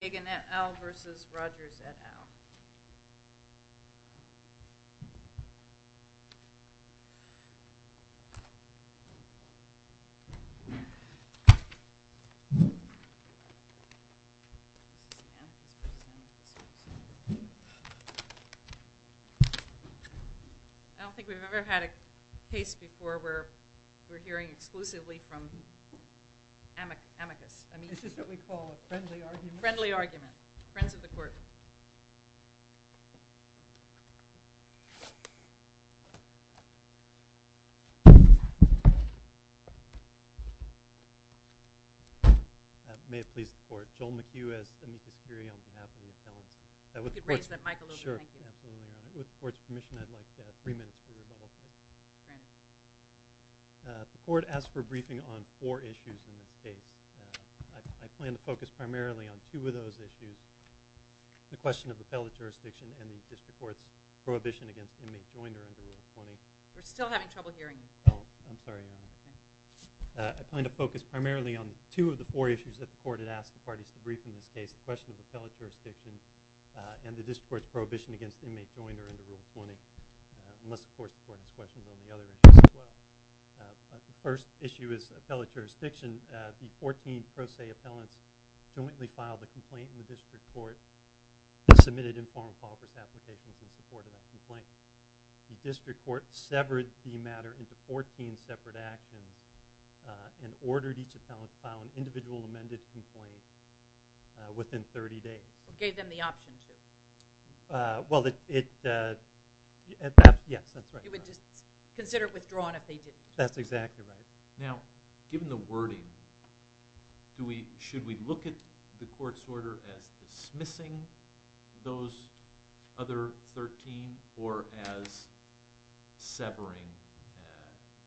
et al. I don't think we've ever had a case before where we're hearing exclusively from friends of the court. May it please the court, Joel McHugh as amicus curiae on behalf of the appellants. If you could raise that mic a little bit, thank you. With the court's permission, I'd like three minutes for rebuttal. The court asked for a briefing on four issues in this case. I plan to focus primarily on two of those issues, the question of appellate jurisdiction and the district court's prohibition against inmate joinder under Rule 20. We're still having trouble hearing you. Oh, I'm sorry. I plan to focus primarily on two of the four issues that the court had asked the parties to brief in this case, the question of appellate jurisdiction and the district court's prohibition against inmate joinder under Rule 20. Unless, of course, the court has questions on the other issues as well. The first issue is appellate jurisdiction. The 14 pro se appellants jointly filed a complaint in the district court and submitted informal qualifications applications in support of that complaint. The district court severed the matter into 14 separate actions and ordered each appellant to file an individual amended complaint within 30 days. Gave them the option to? Well, yes, that's right. You would consider it withdrawn if they didn't. That's exactly right. Now, given the wording, should we look at the court's order as dismissing those other 13 or as severing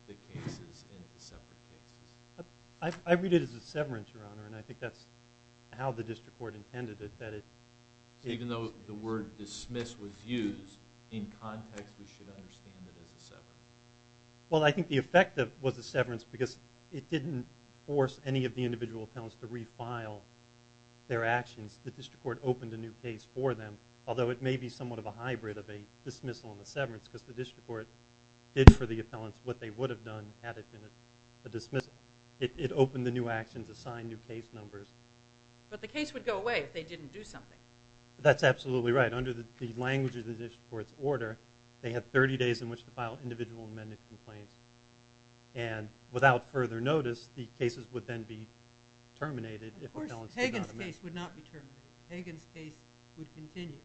the cases into separate cases? I read it as a severance, Your Honor, and I think that's how the district court intended it. Even though the word dismiss was used, in context we should understand it as a severance. Well, I think the effect was a severance because it didn't force any of the individual appellants to refile their actions. The district court opened a new case for them, although it may be somewhat of a hybrid of a dismissal and a severance because the district court did for the appellants what they would have done had it been a dismissal. It opened the new actions, assigned new case numbers. But the case would go away if they didn't do something. That's absolutely right. Under the language of the district court's order, they have 30 days in which to file individual amended complaints, and without further notice, the cases would then be terminated if appellants did not amend. Of course, Hagan's case would not be terminated. Hagan's case would continue.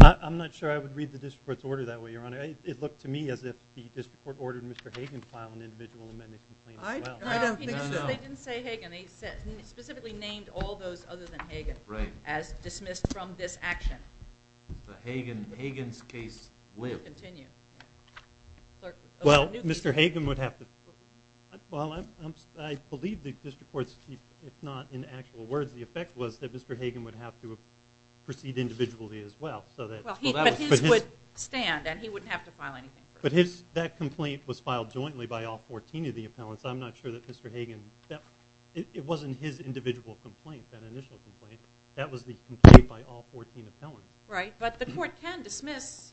I'm not sure I would read the district court's order that way, Your Honor. It looked to me as if the district court ordered Mr. Hagan to file an individual amended complaint as well. I don't think so. They didn't say Hagan. They specifically named all those other than Hagan as dismissed from this action. But Hagan's case would continue. Well, Mr. Hagan would have to. Well, I believe the district court's, if not in actual words, the effect was that Mr. Hagan would have to proceed individually as well. But his would stand, and he wouldn't have to file anything. But that complaint was filed jointly by all 14 of the appellants. I'm not sure that Mr. Hagan, it wasn't his individual complaint, that initial complaint. That was the complaint by all 14 appellants. Right, but the court can dismiss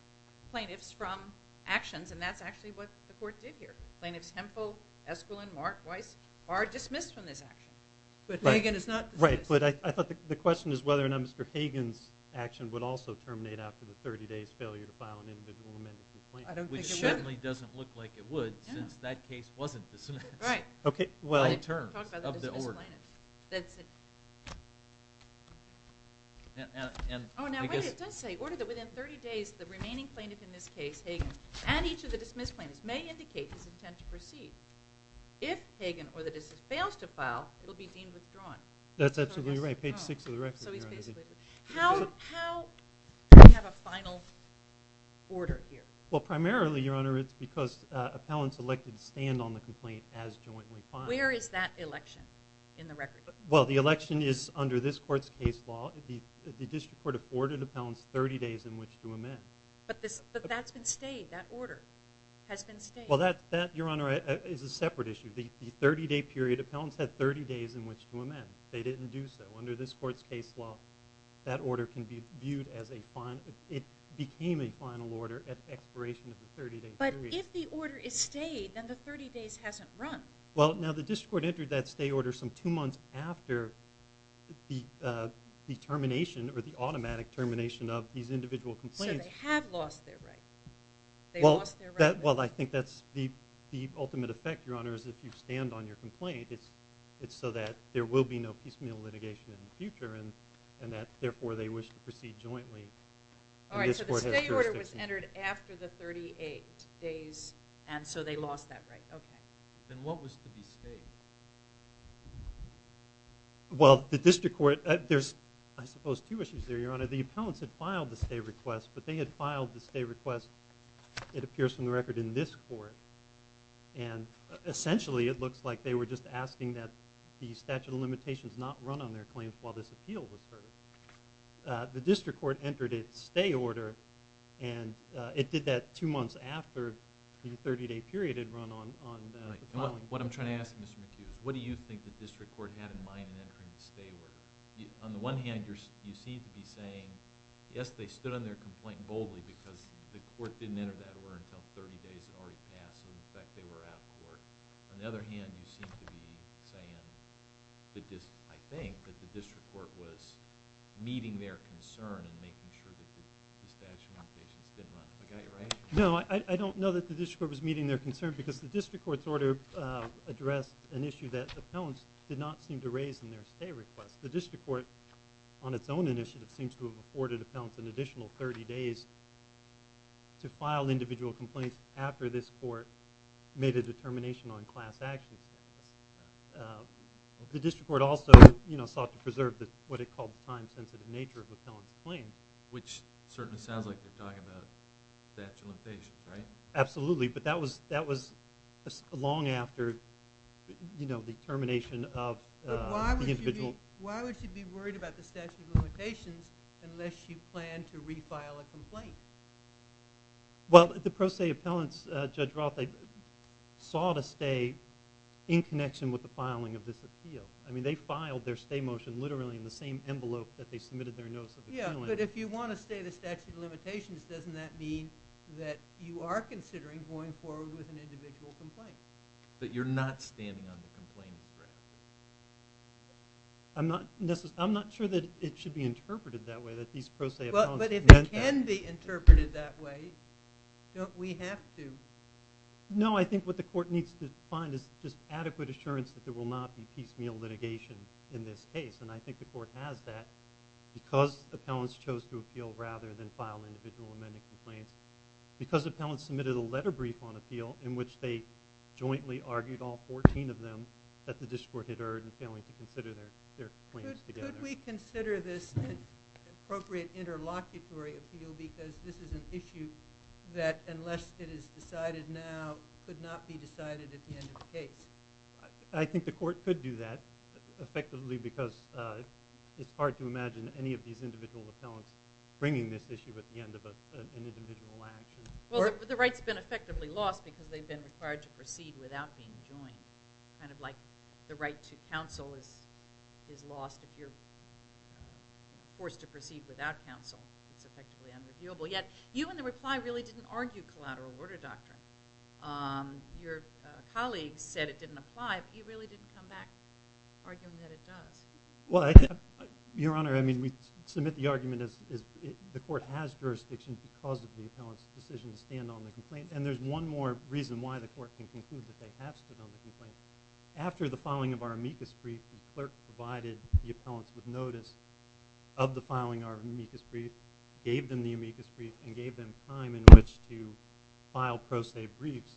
plaintiffs from actions, and that's actually what the court did here. Plaintiffs Hemphill, Esquilin, Mark, Weiss are dismissed from this action. But Hagan is not dismissed. Right, but I thought the question is whether or not Mr. Hagan's action would also terminate after the 30 days failure to file an individual amended complaint. I don't think it would. Which certainly doesn't look like it would, since that case wasn't dismissed. Right. Well, in terms of the order. Talk about the dismissed plaintiff. Oh, now, right, it does say, order that within 30 days, the remaining plaintiff in this case, Hagan, and each of the dismissed plaintiffs may indicate his intent to proceed. If Hagan or the dismissed fails to file, it will be deemed withdrawn. That's absolutely right. Page 6 of the record. So he's basically, how do we have a final order here? Well, primarily, Your Honor, it's because appellants elected stand on the complaint as jointly filed. Where is that election in the record? Well, the election is under this court's case law. The district court afforded appellants 30 days in which to amend. But that's been stayed. That order has been stayed. Well, that, Your Honor, is a separate issue. The 30-day period, appellants had 30 days in which to amend. They didn't do so. Under this court's case law, that order can be viewed as a final. But if the order is stayed, then the 30 days hasn't run. Well, now the district court entered that stay order some two months after the termination or the automatic termination of these individual complaints. So they have lost their right. Well, I think that's the ultimate effect, Your Honor, is if you stand on your complaint. It's so that there will be no piecemeal litigation in the future and that, therefore, they wish to proceed jointly. All right, so the stay order was entered after the 38 days, and so they lost that right. Okay. Then what was to be stayed? Well, the district court—there's, I suppose, two issues there, Your Honor. The appellants had filed the stay request, but they had filed the stay request, it appears from the record, in this court. And essentially, it looks like they were just asking that the statute of limitations not run on their claims while this appeal was heard. The district court entered its stay order, and it did that two months after the 30-day period had run on the appellant. What I'm trying to ask, Mr. McHugh, what do you think the district court had in mind in entering the stay order? On the one hand, you seem to be saying, yes, they stood on their complaint boldly because the court didn't enter that order until 30 days had already passed and, in fact, they were out of court. On the other hand, you seem to be saying, I think, that the district court was meeting their concern in making sure that the statute of limitations didn't run. I got it right? No, I don't know that the district court was meeting their concern because the district court's order addressed an issue that appellants did not seem to raise in their stay request. The district court, on its own initiative, seems to have afforded appellants an additional 30 days to file individual complaints after this court made a determination on class action status. The district court also sought to preserve what it called the time-sensitive nature of the appellant's claim. Which certainly sounds like you're talking about statute of limitations, right? Absolutely, but that was long after the termination of the individual. Why would you be worried about the statute of limitations unless you plan to refile a complaint? Well, the pro se appellants, Judge Roth, they sought to stay in connection with the filing of this appeal. I mean, they filed their stay motion literally in the same envelope that they submitted their notice of appeal in. Yeah, but if you want to stay the statute of limitations, doesn't that mean that you are considering going forward with an individual complaint? But you're not standing on the complaint, correct? I'm not sure that it should be interpreted that way, that these pro se appellants meant that. But if it can be interpreted that way, don't we have to? No, I think what the court needs to find is just adequate assurance that there will not be piecemeal litigation in this case. And I think the court has that because appellants chose to appeal rather than file individual amending complaints. Because appellants submitted a letter brief on appeal in which they jointly argued, all 14 of them, that the district court had erred in failing to consider their claims together. Could we consider this an appropriate interlocutory appeal because this is an issue that, unless it is decided now, could not be decided at the end of the case? I think the court could do that effectively because it's hard to imagine any of these individual appellants bringing this issue at the end of an individual action. Well, the right's been effectively lost because they've been required to proceed without being joined. Kind of like the right to counsel is lost if you're forced to proceed without counsel. It's effectively unreviewable. Yet you in the reply really didn't argue collateral order doctrine. Your colleague said it didn't apply, but you really didn't come back arguing that it does. Well, Your Honor, I mean, we submit the argument that the court has jurisdiction because of the appellant's decision to stand on the complaint. And there's one more reason why the court can conclude that they have stood on the complaint. After the filing of our amicus brief, the clerk provided the appellants with notice of the filing of our amicus brief, gave them the amicus brief, and gave them time in which to file pro se briefs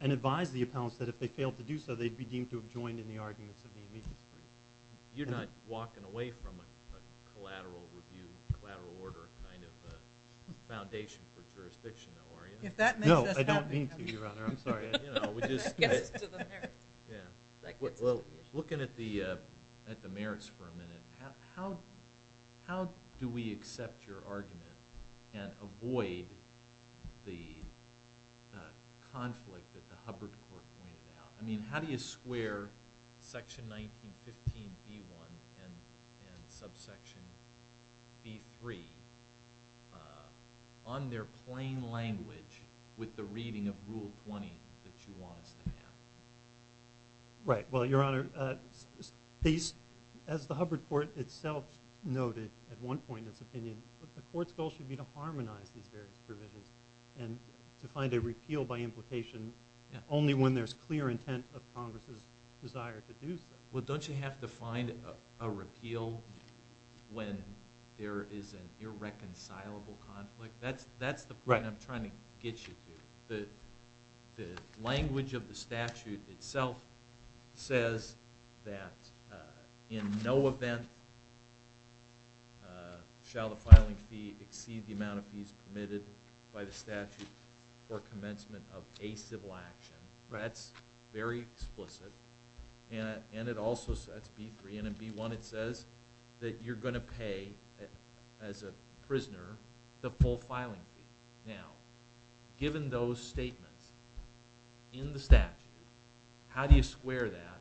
and advised the appellants that if they failed to do so, they'd be deemed to have joined in the arguments of the amicus brief. You're not walking away from a collateral review, collateral order kind of foundation for jurisdiction, though, are you? No, I don't mean to, Your Honor. I'm sorry. Looking at the merits for a minute, how do we accept your argument and avoid the conflict that the Hubbard Court pointed out? I mean, how do you square section 1915b1 and subsection b3 on their plain language with the reading of Rule 20 that you want us to have? Right. Well, Your Honor, as the Hubbard Court itself noted at one point in its opinion, the court's goal should be to harmonize these various provisions and to find a repeal by implication only when there's clear intent of Congress's desire to do so. Well, don't you have to find a repeal when there is an irreconcilable conflict? That's the point I'm trying to get you to. The language of the statute itself says that in no event shall the filing fee exceed the amount of fees permitted by the statute for commencement of a civil action. That's very explicit. And it also says, that's b3, and in b1 it says that you're going to pay, as a prisoner, the full filing fee. Now, given those statements in the statute, how do you square that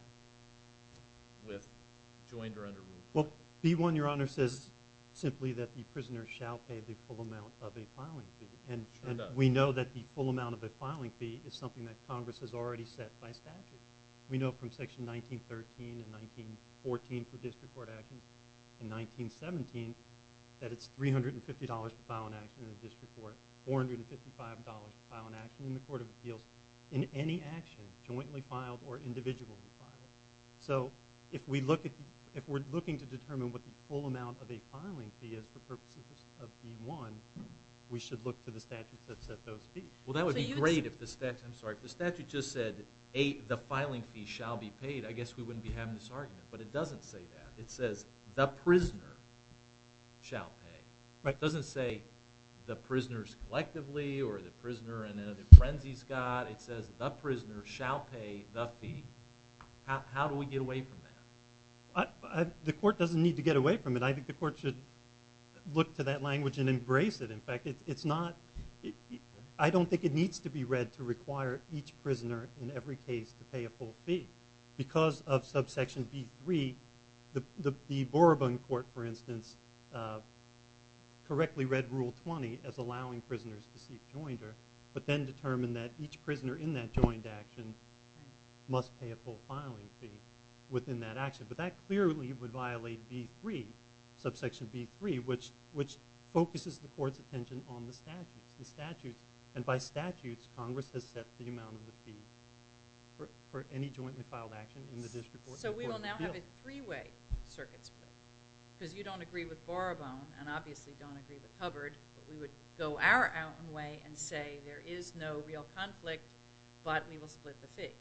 with joined or under rule? Well, b1, Your Honor, says simply that the prisoner shall pay the full amount of a filing fee. And we know that the full amount of a filing fee is something that Congress has already set by statute. We know from Section 1913 and 1914 for district court action and 1917 that it's $350 to file an action in the district court, $455 to file an action in the court of appeals, in any action, jointly filed or individually filed. So if we're looking to determine what the full amount of a filing fee is for purposes of b1, we should look for the statute that sets those fees. Well, that would be great if the statute just said, the filing fee shall be paid. I guess we wouldn't be having this argument. But it doesn't say that. It says the prisoner shall pay. It doesn't say the prisoners collectively or the prisoner in another frenzy's got. It says the prisoner shall pay the fee. How do we get away from that? The court doesn't need to get away from it. I think the court should look to that language and embrace it. In fact, I don't think it needs to be read to require each prisoner in every case to pay a full fee. Because of subsection b3, the Boroban court, for instance, correctly read Rule 20 as allowing prisoners to seek joinder but then determined that each prisoner in that joint action must pay a full filing fee within that action. But that clearly would violate b3, subsection b3, which focuses the court's attention on the statute. And by statutes, Congress has set the amount of the fee for any jointly filed action in the district court. So we will now have a three-way circuit. Because you don't agree with Boroban and obviously don't agree with Hubbard, we would go our own way and say there is no real conflict but we will split the fee.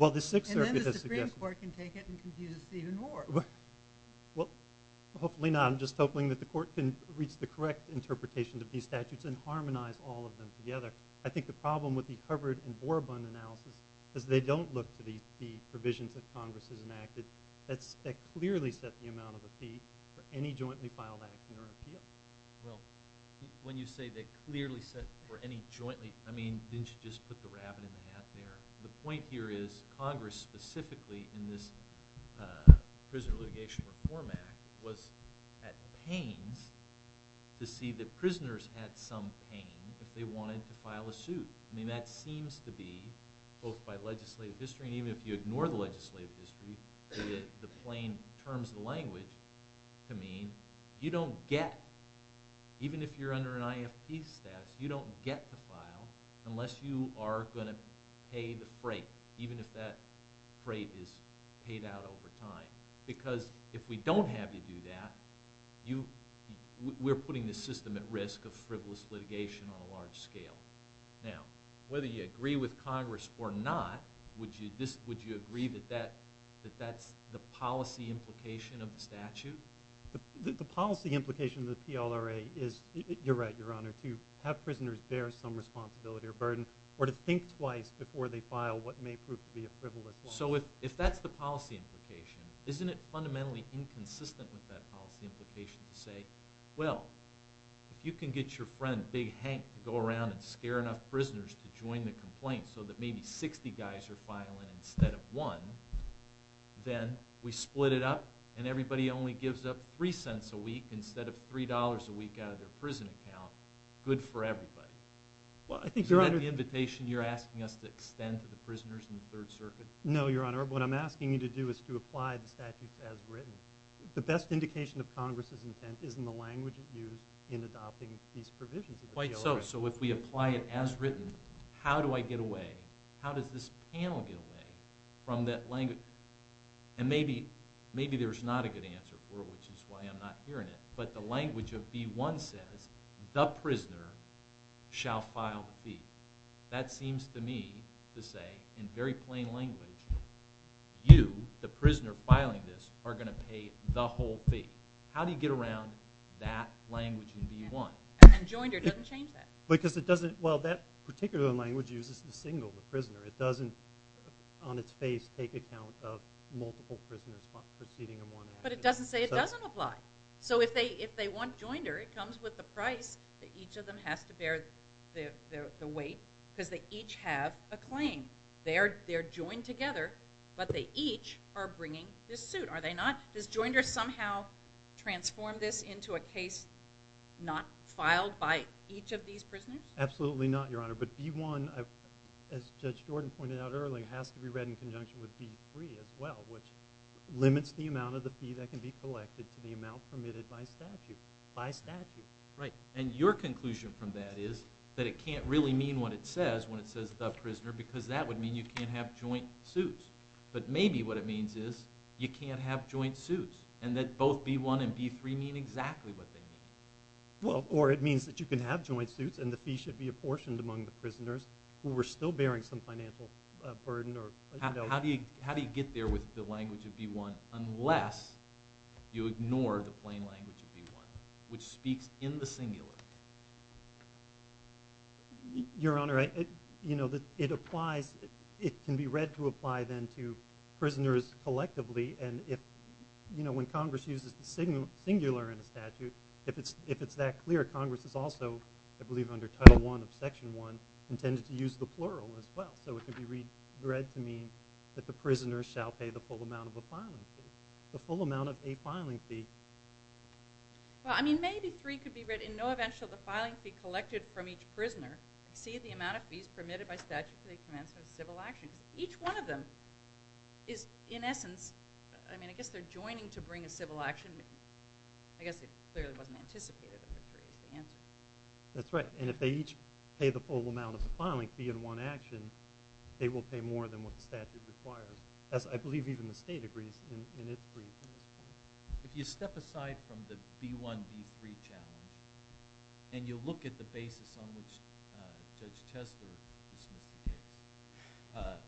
And then the Supreme Court can take it and confuse it even more. Well, hopefully not. I'm just hoping that the court can reach the correct interpretation of these statutes and harmonize all of them together. I think the problem with the Hubbard and Boroban analysis is they don't look to the provisions that Congress has enacted that clearly set the amount of the fee for any jointly filed action or appeal. Well, when you say they clearly set for any jointly, I mean, didn't you just put the rabbit in the hat there? The point here is Congress, specifically in this Prisoner Litigation Reform Act, was at pains to see that prisoners had some pain if they wanted to file a suit. I mean, that seems to be, both by legislative history and even if you ignore the legislative history, the plain terms of the language to mean you don't get, even if you're under an IFP statute, you don't get the file unless you are going to pay the freight, even if that freight is paid out over time. Because if we don't have you do that, we're putting the system at risk of frivolous litigation on a large scale. Now, whether you agree with Congress or not, would you agree that that's the policy implication of the statute? Have prisoners bear some responsibility or burden or to think twice before they file what may prove to be a frivolous one? So if that's the policy implication, isn't it fundamentally inconsistent with that policy implication to say, well, if you can get your friend Big Hank to go around and scare enough prisoners to join the complaint so that maybe 60 guys are filing instead of one, then we split it up and everybody only gives up three cents a week so good for everybody. Is that the invitation you're asking us to extend to the prisoners in the Third Circuit? No, Your Honor. What I'm asking you to do is to apply the statute as written. The best indication of Congress's intent is in the language used in adopting these provisions. Quite so. So if we apply it as written, how do I get away? How does this panel get away from that language? And maybe there's not a good answer for it, which is why I'm not hearing it, but the language of B-1 says, the prisoner shall file the fee. That seems to me to say, in very plain language, you, the prisoner filing this, are going to pay the whole fee. How do you get around that language in B-1? And Joinder doesn't change that. Because it doesn't, well, that particular language uses the single, the prisoner. It doesn't, on its face, take account of multiple prisoners proceeding or more than that. But it doesn't say it doesn't apply. So if they want Joinder, it comes with a price that each of them has to bear the weight, because they each have a claim. They're joined together, but they each are bringing this suit, are they not? Does Joinder somehow transform this into a case not filed by each of these prisoners? Absolutely not, Your Honor. But B-1, as Judge Jordan pointed out earlier, has to be read in conjunction with B-3 as well, which limits the amount of the fee that can be collected to the amount permitted by statute. By statute. Right. And your conclusion from that is that it can't really mean what it says when it says the prisoner, because that would mean you can't have joint suits. But maybe what it means is you can't have joint suits, and that both B-1 and B-3 mean exactly what they mean. Well, or it means that you can have joint suits and the fee should be apportioned among the prisoners who were still bearing some financial burden. How do you get there with the language of B-1 unless you ignore the plain language of B-1, which speaks in the singular? Your Honor, it applies, it can be read to apply then to prisoners collectively, and when Congress uses the singular in a statute, if it's that clear, Congress is also, I believe under Title I of Section 1, intended to use the plural as well. So it can be read to mean that the prisoners shall pay the full amount of a filing fee. The full amount of a filing fee. Well, I mean, maybe free could be read, in no event shall the filing fee collected from each prisoner exceed the amount of fees permitted by statute to the commencement of civil actions. Each one of them is, in essence, I mean, I guess they're joining to bring a civil action, I guess it clearly wasn't anticipated that they're free is the answer. That's right. And if they each pay the full amount of the filing fee in one action, then they will pay more than what the statute requires, as I believe even the state agrees in its brief. If you step aside from the B-1, B-3 challenge, and you look at the basis on which Judge Chester is looking at,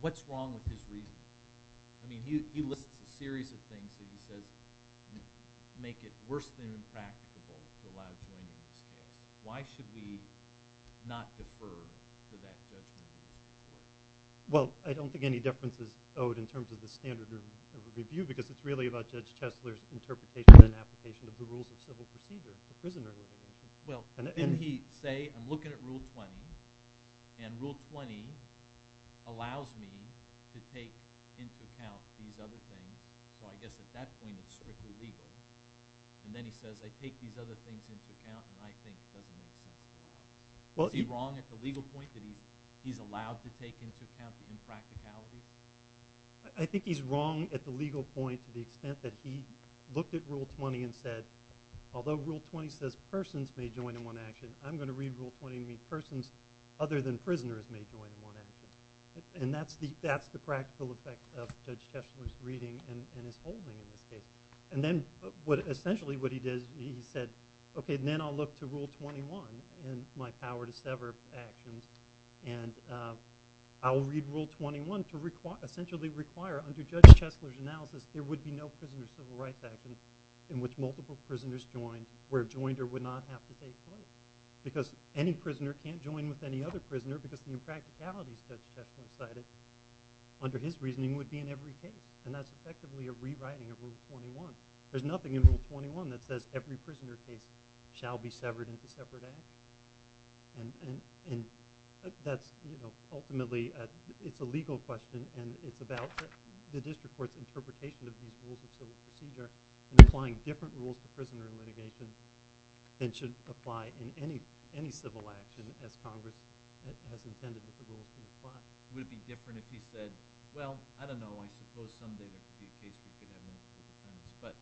what's wrong with his reasoning? I mean, he lists a series of things that he says make it worse than impracticable to allow joining the state. Why should we not defer to that judgment? Well, I don't think any difference is owed in terms of the standard of review, because it's really about Judge Chester's interpretation and application of the rules of civil procedure. Well, didn't he say, I'm looking at Rule 20, and Rule 20 allows me to take into account these other things, so I guess at that point it's strictly legal. And then he says, I take these other things into account, and I think it doesn't make sense at all. Is he wrong at the legal point that he's allowed to take into account the impracticality? I think he's wrong at the legal point to the extent that he looked at Rule 20 and said, although Rule 20 says persons may join in one action, I'm going to read Rule 20 and read persons other than prisoners may join in one action. And that's the practical effect of Judge Chester's reading and his holding in this case. And then essentially what he did, he said, okay, then I'll look to Rule 21 and my power to sever actions, and I'll read Rule 21 to essentially require, under Judge Chester's analysis, there would be no prisoner's civil rights act in which multiple prisoners join where a joiner would not have to take place, because any prisoner can't join with any other prisoner because the impracticality, Judge Chester cited, under his reasoning, would be in every case. And that's effectively a rewriting of Rule 21. There's nothing in Rule 21 that says every prisoner case shall be severed into separate acts. And that's ultimately, it's a legal question, and it's about the district court's interpretation of these rules of civil procedure and applying different rules to prisoner litigation than should apply in any civil action as Congress has intended that the rules should apply. Would it be different if he said, well, I don't know, I suppose some day there could be a case where we could have many different defendants, but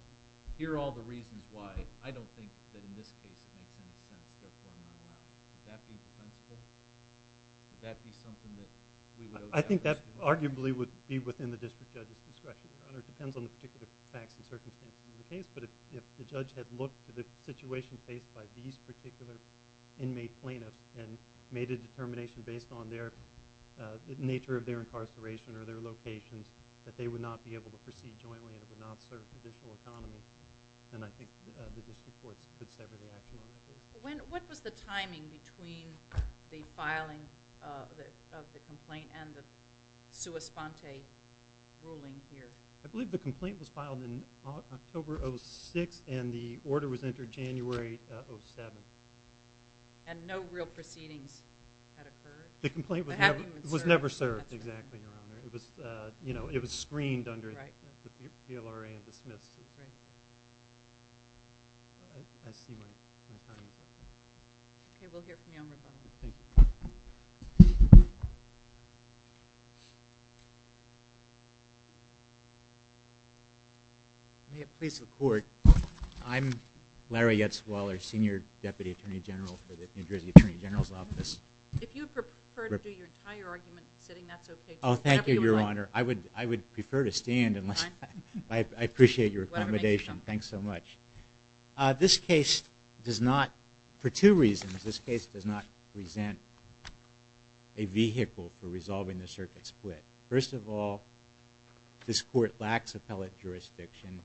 here are all the reasons why I don't think that in this case we have 10 defendants, therefore I'm going to allow it. Would that be potential? Would that be something that we would owe that question? I think that arguably would be within the district judge's discretion, Your Honor. It depends on the particular facts and circumstances of the case, but if the judge had looked at the situation faced by these particular inmate plaintiffs and made a determination based on their, the nature of their incarceration or their locations that they would not be able to proceed jointly and it would not serve the judicial economy, then I think the district courts could sever the action on that case. What was the timing between the filing of the complaint and the sua sponte ruling here? I believe the complaint was filed in October of 06 and the order was entered January of 07. And no real proceedings had occurred? The complaint was never served, exactly, Your Honor. It was screened under the PLRA and dismissed. I see my time is up. Okay, we'll hear from you on rebuttal. Thank you. May it please the Court, I'm Larry Yetzwaller, Senior Deputy Attorney General for the New Jersey Attorney General's Office. If you prefer to do your entire argument sitting, that's okay. Oh, thank you, Your Honor. I would prefer to stand. I appreciate your accommodation. Thanks so much. This case does not, for two reasons, this case does not present a vehicle for resolving the circuit split. First of all, this court lacks appellate jurisdiction.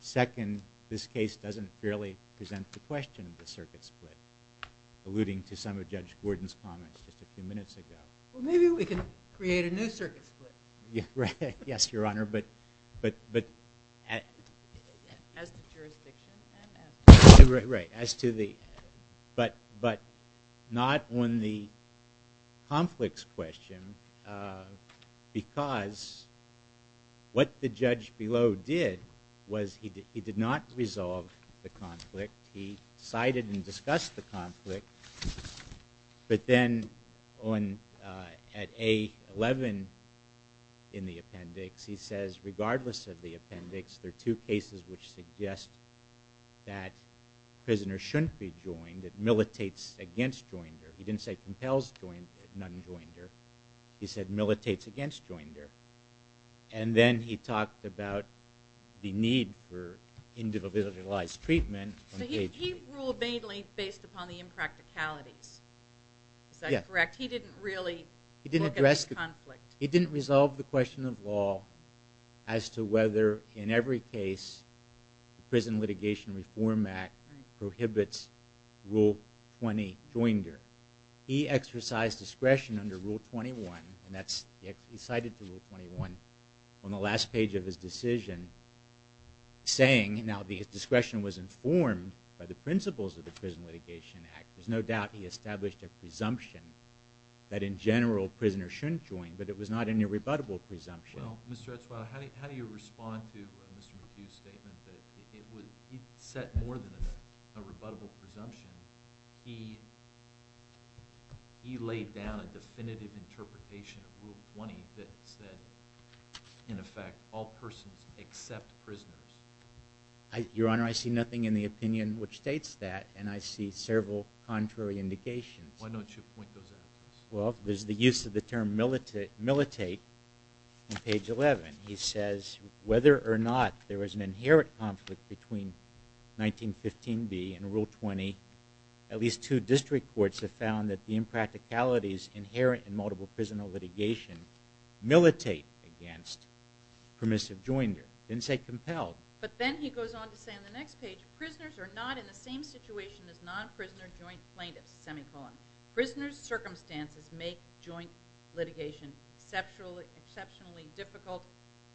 Second, this case doesn't fairly present the question of the circuit split, alluding to some of Judge Gordon's comments just a few minutes ago. Well, maybe we can create a new circuit split. Yes, Your Honor, but... As to jurisdiction. Right, as to the... But not on the conflicts question because what the judge below did was he did not resolve the conflict. He cited and discussed the conflict, but then at A11 in the appendix, he says regardless of the appendix, there are two cases which suggest that prisoners shouldn't be joined, that militates against joinder. He didn't say compels non-joinder. He said militates against joinder. And then he talked about the need for individualized treatment. He ruled mainly based upon the impracticalities. Is that correct? He didn't really look at the conflict. He didn't resolve the question of law as to whether in every case the Prison Litigation Reform Act prohibits Rule 20, joinder. He exercised discretion under Rule 21, and he cited the Rule 21 on the last page of his decision saying, now his discretion was informed by the principles of the Prison Litigation Act. There's no doubt he established a presumption that in general prisoners shouldn't join, but it was not any rebuttable presumption. Well, Mr. Etzfaila, how do you respond to Mr. Medue's statement that it was... He set more than a rebuttable presumption. He laid down a definitive interpretation of Rule 20 that said, in effect, all persons except prisoners. Your Honor, I see nothing in the opinion which states that, and I see several contrary indications. Why don't you point those out to us? Well, there's the use of the term militate on page 11. He says whether or not there was an inherent conflict between 1915b and Rule 20, at least two district courts have found that the impracticalities inherent in multiple prison litigation militate against permissive joinder. Didn't say compelled. But then he goes on to say on the next page, prisoners are not in the same situation as non-prisoner joint plaintiffs, semicolon. Prisoner's circumstances make joint litigation exceptionally difficult,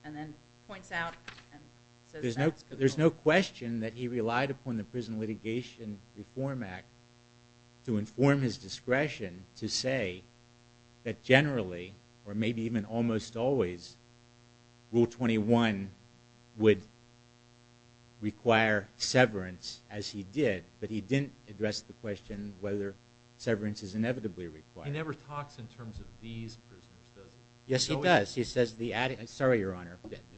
and then points out and says that's... There's no question that he relied upon the Prison Litigation Reform Act to inform his discretion to say that generally, or maybe even almost always, Rule 21 would require severance, as he did, but he didn't address the question whether severance is inevitably required. He never talks in terms of these prisoners, does he? Yes, he does. He says the... Sorry, Your Honor,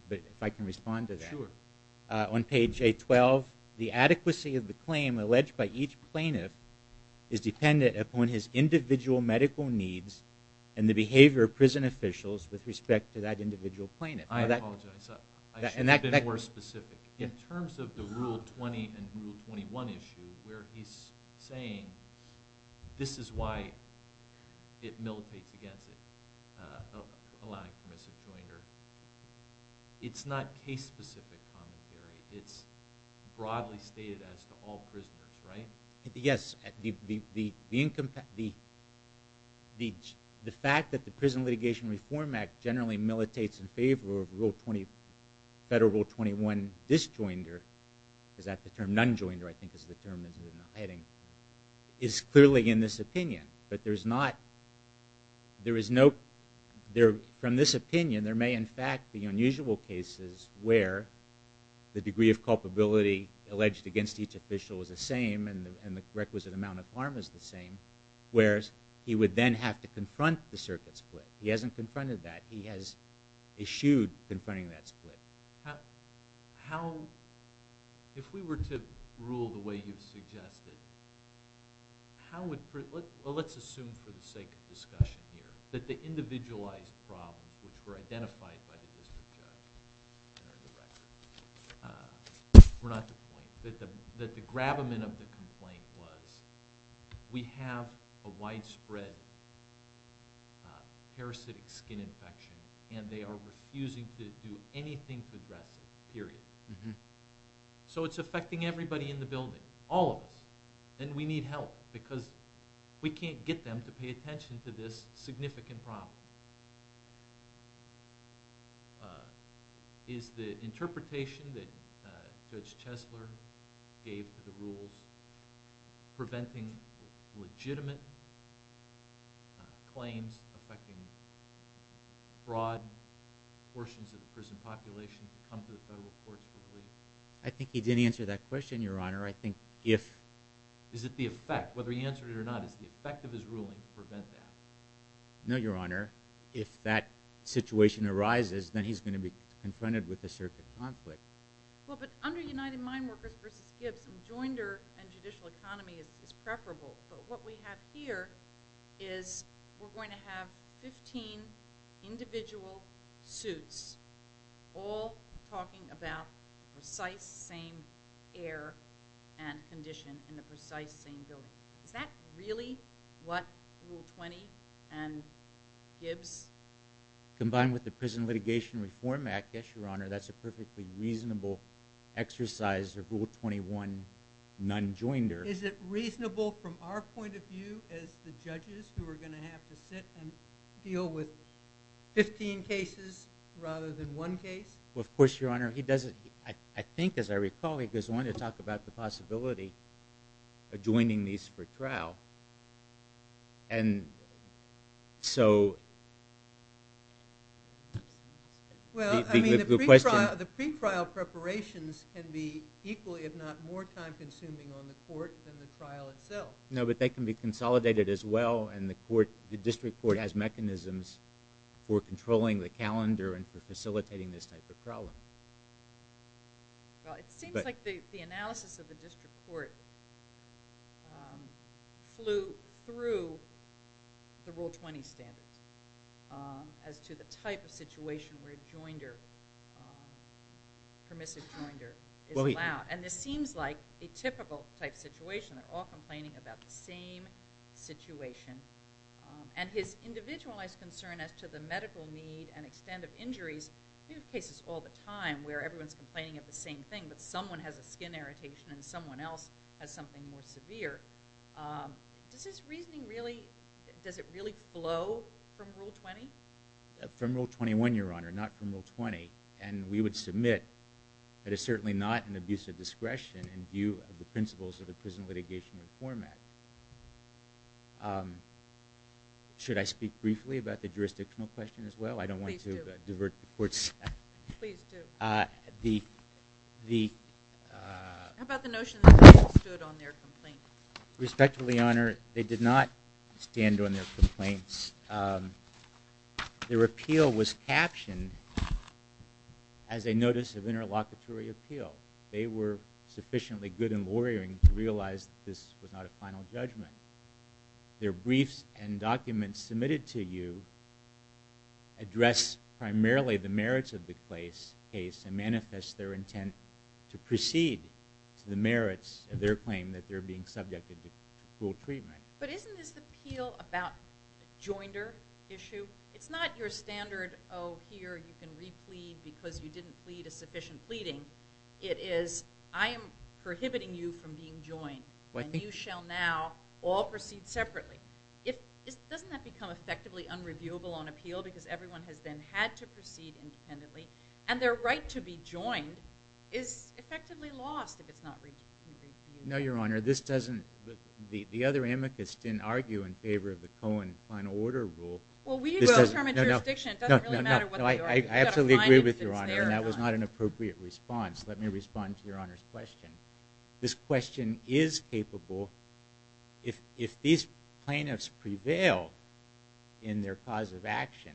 but if I can respond to that. Sure. On page 812, the adequacy of the claim alleged by each plaintiff is dependent upon his individual medical needs and the behavior of prison officials with respect to that individual plaintiff. I apologize. I should have been more specific. In terms of the Rule 20 and Rule 21 issues where he's saying this is why it militates against it, allowing permissive joinder, it's not case-specific commentary. It's broadly stated as to all prisoners, right? Yes. The fact that the Prison Litigation Reform Act generally militates in favor of Federal Rule 21 disjoinder, is that the term? Nonjoinder, I think, is the term. It's clearly in this opinion, but there's not... There is no... From this opinion, there may, in fact, be unusual cases where the degree of culpability alleged against each official is the same and the requisite amount of harm is the same, whereas he would then have to confront the circuit split. He hasn't confronted that. He has eschewed confronting that split. How... If we were to rule the way you've suggested, how would... Well, let's assume for the sake of discussion here that the individualized problems which were identified by the district judge and the director were not the point, that the gravamen of the complaint was, we have a widespread parasitic skin infection and they are refusing to do anything to address it, period. So it's affecting everybody in the building, all of us, and we need help because we can't get them to pay attention to this significant problem. Is the interpretation that Judge Chesler gave to the rules preventing legitimate claims affecting broad portions of the prison population to come to the federal courts for release? I think he didn't answer that question, Your Honor. I think if... Is it the effect? Whether he answered it or not, is the effect of his ruling to prevent that? No, Your Honor. If that situation arises, then he's going to be confronted with a circuit of conflict. Well, but under United Mine Workers v. Gibbs, enjoinder and judicial economy is preferable, but what we have here is we're going to have 15 individual suits all talking about precise same air and condition in the precise same building. Is that really what Rule 20 and Gibbs... Combined with the Prison Litigation Reform Act, yes, Your Honor. That's a perfectly reasonable exercise of Rule 21, non-enjoinder. Is it reasonable from our point of view as the judges who are going to have to sit and deal with 15 cases rather than one case? Well, of course, Your Honor. He doesn't... I think, as I recall, he goes on to talk about the possibility of adjoining these for trial. And so... Well, I mean, the pre-trial preparations can be equally, if not more time-consuming on the court than the trial itself. No, but they can be consolidated as well, and the district court has mechanisms for controlling the calendar and for facilitating this type of problem. Well, it seems like the analysis of the district court flew through the Rule 20 standards as to the type of situation where a joinder, permissive joinder, is allowed. And this seems like a typical-type situation. They're all complaining about the same situation. And his individualized concern as to the medical need and extent of injuries... We have cases all the time where everyone's complaining of the same thing, but someone has a skin irritation and someone else has something more severe. Does this reasoning really... Does it really flow from Rule 20? From Rule 21, Your Honor, not from Rule 20. And we would submit that it's certainly not an abuse of discretion in view of the principles of the prison litigation reform act. Should I speak briefly about the jurisdictional question as well? Please do. I don't want to divert the court's attention. Please do. How about the notion that they stood on their complaint? Respectfully, Your Honor, they did not stand on their complaints. Their appeal was captioned as a notice of interlocutory appeal. They were sufficiently good in lawyering to realize that this was not a final judgment. Their briefs and documents submitted to you address primarily the merits of the case and manifest their intent to proceed to the merits of their claim that they're being subjected to cruel treatment. But isn't this appeal about joinder issue? It's not your standard, oh, here, you can replead because you didn't plead a sufficient pleading. It is, I am prohibiting you from being joined, and you shall now all proceed separately. Doesn't that become effectively unreviewable on appeal because everyone has then had to proceed independently, and their right to be joined is effectively lost if it's not reviewed? No, Your Honor, this doesn't, the other amicus didn't argue in favor of the Cohen Final Order Rule. Well, we will determine jurisdiction. It doesn't really matter what they argue. I absolutely agree with Your Honor, and that was not an appropriate response. Let me respond to Your Honor's question. This question is capable, if these plaintiffs prevail in their cause of action,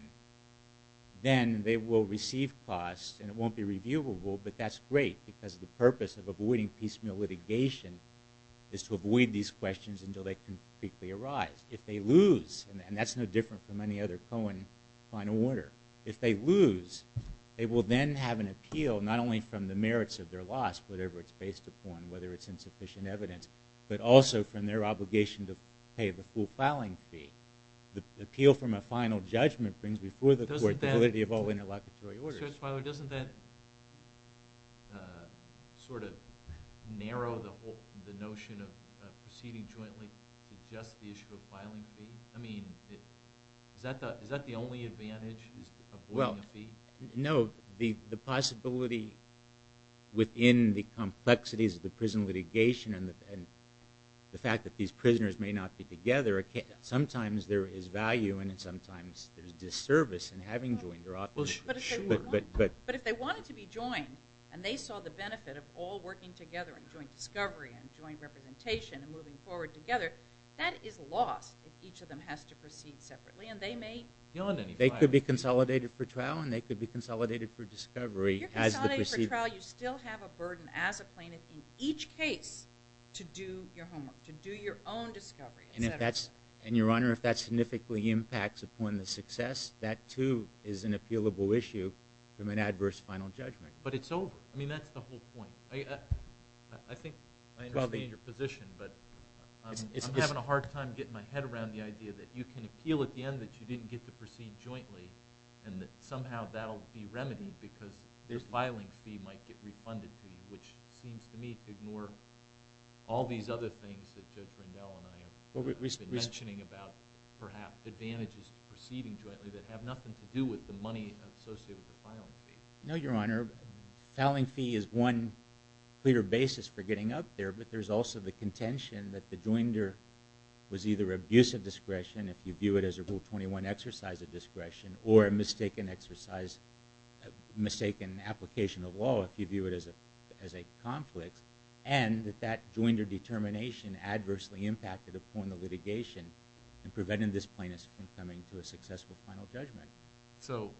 then they will receive costs, and it won't be reviewable, but that's great because the purpose of avoiding piecemeal litigation is to avoid these questions until they concretely arise. If they lose, and that's no different from any other Cohen Final Order, if they lose, they will then have an appeal not only from the merits of their loss, whatever it's based upon, whether it's insufficient evidence, but also from their obligation to pay the full filing fee. The appeal from a final judgment brings before the court the validity of all interlocutory orders. Justice Feiler, doesn't that sort of narrow the notion of proceeding jointly to just the issue of filing fee? I mean, is that the only advantage of avoiding a fee? No, the possibility within the complexities of the prison litigation and the fact that these prisoners may not be together, sometimes there is value and sometimes there's disservice in having joined their offices. But if they wanted to be joined and they saw the benefit of all working together and joint discovery and joint representation and moving forward together, that is lost if each of them has to proceed separately. They could be consolidated for trial and they could be consolidated for discovery. If you're consolidated for trial, you still have a burden as a plaintiff in each case to do your homework, to do your own discovery. And your Honor, if that significantly impacts upon the success, that too is an appealable issue from an adverse final judgment. But it's over. I mean, that's the whole point. I think I understand your position, but I'm having a hard time getting my head around the idea that you can appeal at the end that you didn't get to proceed jointly and that somehow that'll be remedied because their filing fee might get refunded to you, which seems to me to ignore all these other things that Judge Lindell and I have been mentioning about perhaps advantages of proceeding jointly that have nothing to do with the money associated with the filing fee. No, your Honor. Filing fee is one clear basis for getting up there, but there's also the contention that the joinder was either abuse of discretion, if you view it as a Rule 21 exercise of discretion, or a mistaken exercise, mistaken application of law if you view it as a conflict, and that that joinder determination adversely impacted upon the litigation in preventing this plaintiff from coming to a successful final judgment. So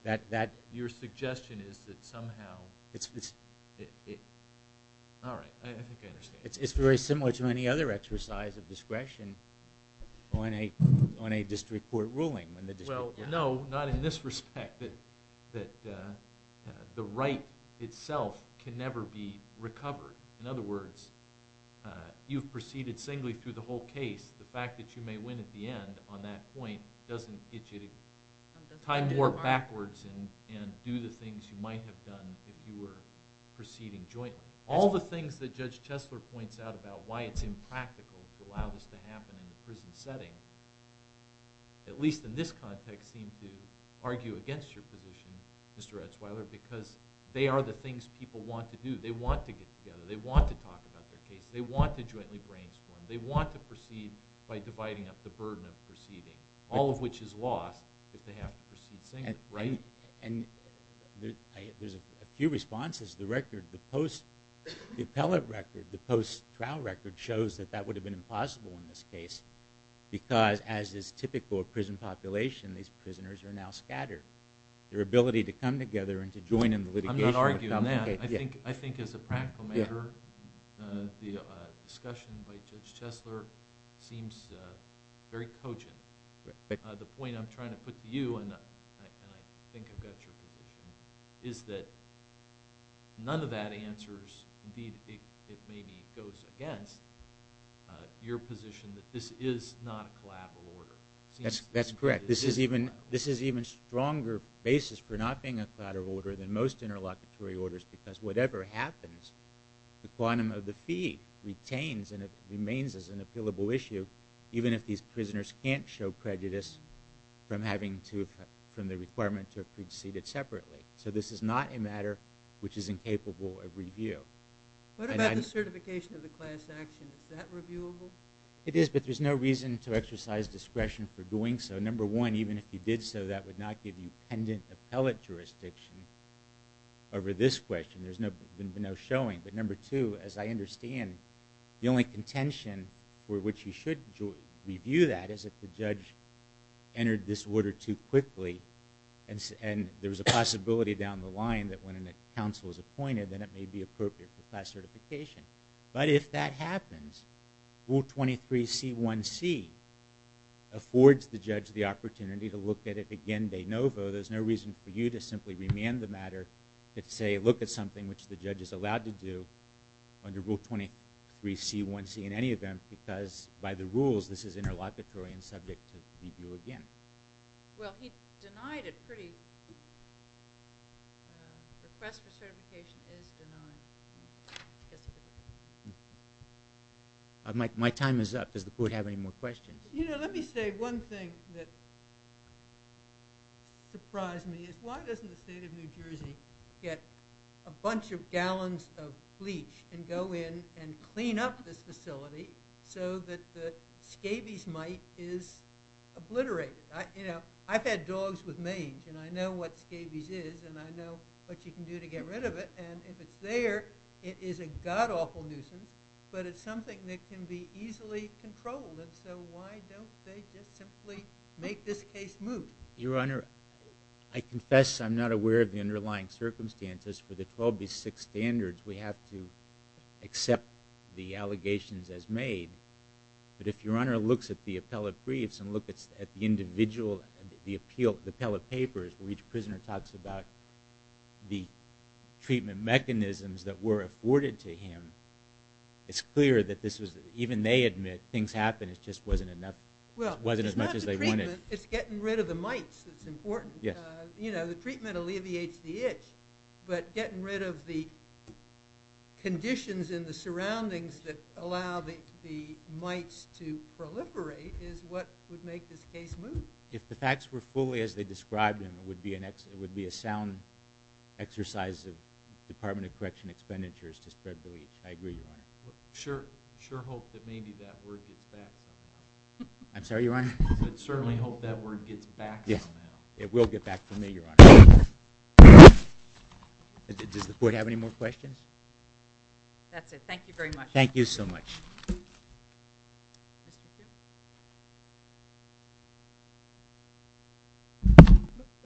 your suggestion is that somehow... It's... All right, I think I understand. It's very similar to any other exercise of discretion on a district court ruling. Well, no, not in this respect. That the right itself can never be recovered. In other words, you've proceeded singly through the whole case. The fact that you may win at the end on that point doesn't get you to tie more backwards and do the things you might have done if you were proceeding jointly. All the things that Judge Chesler points out about why it's impractical to allow this to happen in a prison setting, at least in this context, I don't seem to argue against your position, Mr. Etzweiler, because they are the things people want to do. They want to get together. They want to talk about their case. They want to jointly brainstorm. They want to proceed by dividing up the burden of proceeding, all of which is lost if they have to proceed singly, right? And there's a few responses. The record, the post... The appellate record, the post-trial record shows that that would have been impossible in this case because, as is typical of prison population, these prisoners are now scattered. Their ability to come together and to join in the litigation... I'm not arguing that. I think, as a practical matter, the discussion by Judge Chesler seems very cogent. The point I'm trying to put to you, and I think I've got your position, is that none of that answers, indeed, it maybe goes against, your position that this is not a collateral order. That's correct. This is an even stronger basis for not being a collateral order than most interlocutory orders because whatever happens, the quantum of the fee retains and it remains as an appealable issue even if these prisoners can't show prejudice from the requirement to have proceeded separately. So this is not a matter which is incapable of review. What about the certification of the class action? Is that reviewable? It is, but there's no reason to exercise discretion for doing so. Number one, even if you did so, that would not give you pendant appellate jurisdiction over this question. There's been no showing. But number two, as I understand, the only contention for which you should review that is if the judge entered this order too quickly and there was a possibility down the line that when a counsel is appointed then it may be appropriate for class certification. But if that happens, Rule 23C1C affords the judge the opportunity to look at it again de novo. There's no reason for you to simply remand the matter and say look at something which the judge is allowed to do under Rule 23C1C in any event because by the rules this is interlocutory and subject to review again. Well, he denied it pretty... Request for certification is denied. Yes, sir. My time is up. Does the court have any more questions? You know, let me say one thing that surprised me is why doesn't the state of New Jersey get a bunch of gallons of bleach and go in and clean up this facility so that the scabies mite is obliterated? You know, I've had dogs with mange and I know what scabies is and I know what you can do to get rid of it and if it's there, it is a god-awful nuisance but it's something that can be easily controlled and so why don't they just simply make this case move? Your Honor, I confess I'm not aware of the underlying circumstances for the 12B6 standards. We have to accept the allegations as made but if Your Honor looks at the appellate briefs and looks at the individual the appellate papers where each prisoner talks about the treatment mechanisms that were afforded to him it's clear that this was even they admit things happened it just wasn't enough it wasn't as much as they wanted. Well, it's not the treatment it's getting rid of the mites that's important. Yes. You know, the treatment alleviates the itch but getting rid of the conditions in the surroundings that allow the mites to proliferate is what would make this case move. If the facts were fully as they described them it would be a sound exercise of Department of Correction expenditures to spread the leach. I agree, Your Honor. Sure. Sure hope that maybe that word gets back. I'm sorry, Your Honor? Certainly hope that word gets back somehow. Yes. It will get back to me, Your Honor. Does the court have any more questions? That's it. Thank you very much. Thank you so much.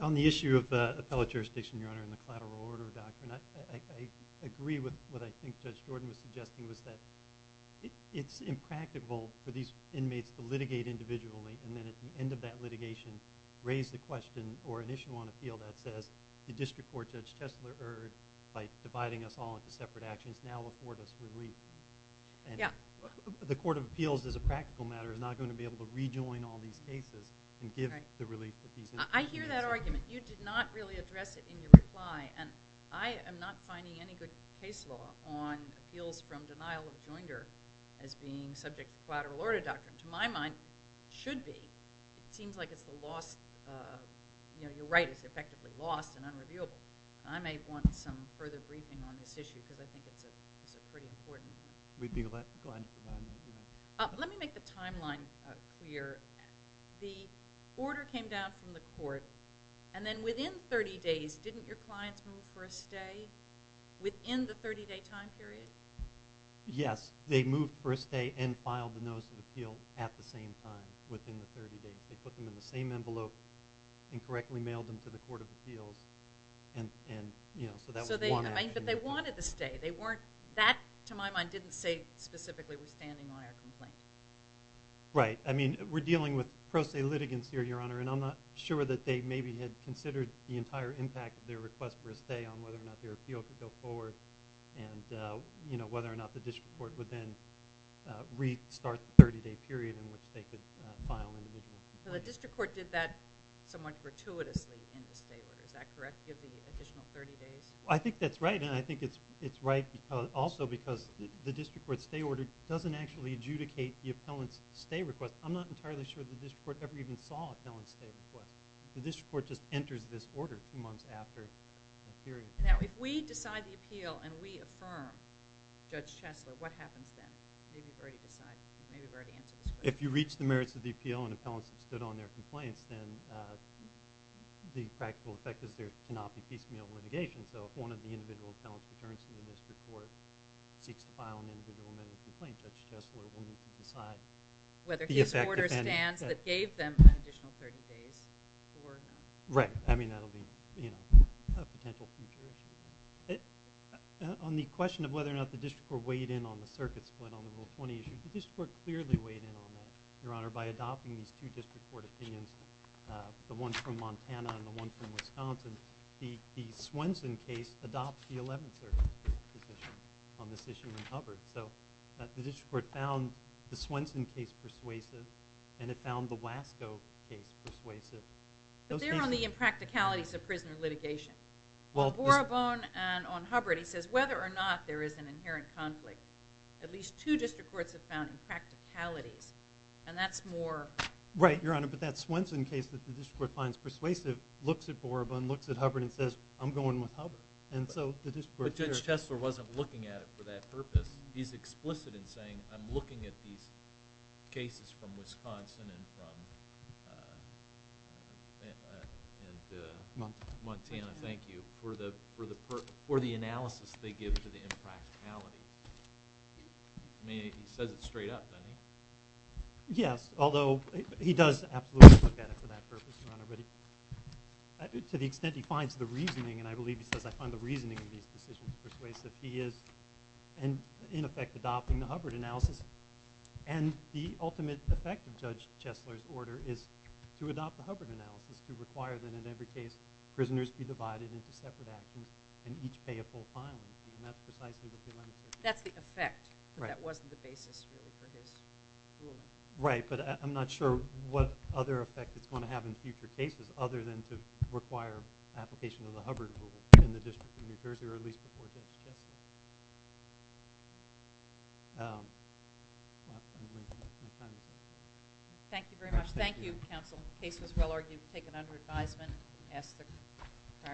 On the issue of appellate jurisdiction, Your Honor and the collateral order doctrine I agree with what I think Judge Jordan was suggesting was that it's impractical for these inmates to litigate individually and then at the end of that litigation raise the question or initial on appeal that says the district court Judge Chesler erred by dividing us all into separate actions now afford us relief. Yeah. The court of appeals as a practical matter is not going to be able to rejoin all these cases and give the relief that these inmates deserve. I hear that argument. You did not really address it in your reply and I am not finding any good case law on appeals from denial of joinder as being subject to collateral order doctrine. To my mind it should be. It seems like it's the lost you know, you're right it's effectively lost and unreviewable. I may want some further briefing on this issue because I think it's a pretty important We'd be glad to provide that information. Let me make the timeline clear. The order came down from the court of appeals and then within 30 days didn't your clients move for a stay within the 30 day time period? Yes. They moved for a stay and filed the notice of appeal at the same time within the 30 days. They put them in the same envelope and correctly mailed them to the court of appeals and you know So they wanted to stay. They weren't that to my mind didn't say specifically withstanding my complaint. Right. I mean we're dealing with pro se litigants here Your Honor and I'm not sure that they maybe had considered the entire impact of their request for a stay on whether or not their appeal could go forward and you know whether or not the district court would then restart the 30 day period in which they could file So the district court did that somewhat gratuitously in the stay order. Is that correct? Give the additional 30 days? I think that's right and I think it's right also because the district court stay order doesn't actually adjudicate the appellant's stay request. I'm not entirely sure that the district court ever even saw an appellant's stay request. The district court just enters this order months after the period. Now if we decide the appeal and we affirm Judge Chesler what happens then? Maybe we've already decided. Maybe we've already answered this question. If you reach the merits of the appeal and appellants have stood on their case, have to make a complaint. Judge Chesler will need to decide. Whether his order stands that gave them an additional 30 days or not. Right. I mean that'll be a potential future issue. On the question of whether or not the district court weighed in on the circuit split on the Rule 20 issue, the district court clearly weighed in on that. Your Honor, by adopting these two district court opinions, the one from Montana and the one from Wisconsin, the Swenson case adopts the 11th Circuit position on this issue in Hubbard. So the district court found the Swenson case persuasive and it found the Wasco case persuasive. But they're on the impracticalities of prisoner litigation. On Borabone and on Hubbard, he says whether or not there is an inherent conflict, at least two district courts have found impracticalities and that's more... Right, Your Honor, but that Swenson case that the district court finds persuasive looks at Borabone, looks at Hubbard and says I'm going with Hubbard. And so the district court... But Judge Tesler wasn't looking at it for that purpose. He's explicit in saying I'm looking at these cases from Wisconsin and from Montana, thank you, for the analysis they give to the impracticalities. I mean he says it straight up, doesn't he? Yes, although he does absolutely look at it for that purpose. And the ultimate effect of Judge Tesler's order is to adopt the Hubbard analysis, to require that in every case prisoners be divided into separate actions and each pay a full fine. And that's precisely what he wanted. That's the effect, but that wasn't the basis really for his ruling. Right, but I'm not sure what other effect it's going to have in future cases other than to require application of the Hubbard rule in the district of New Jersey or at least before Judge Tesler. Thank you very much. Thank you, counsel. The case was well argued, taken under the pre-judicial ask for 20-21 PAPERS PAPERS PAPERS PAPERS PAPERS PAGES PAPERS PAPERS PAPERS PAPERS PAGES PAGES PAPERS PAPERS PAPERS PAPERS PAGES PAPERS PAPERS PAPERS PAPERS PAPERS PAGES PAPERS PAPERS PAPERS PAPERS PAPERS One.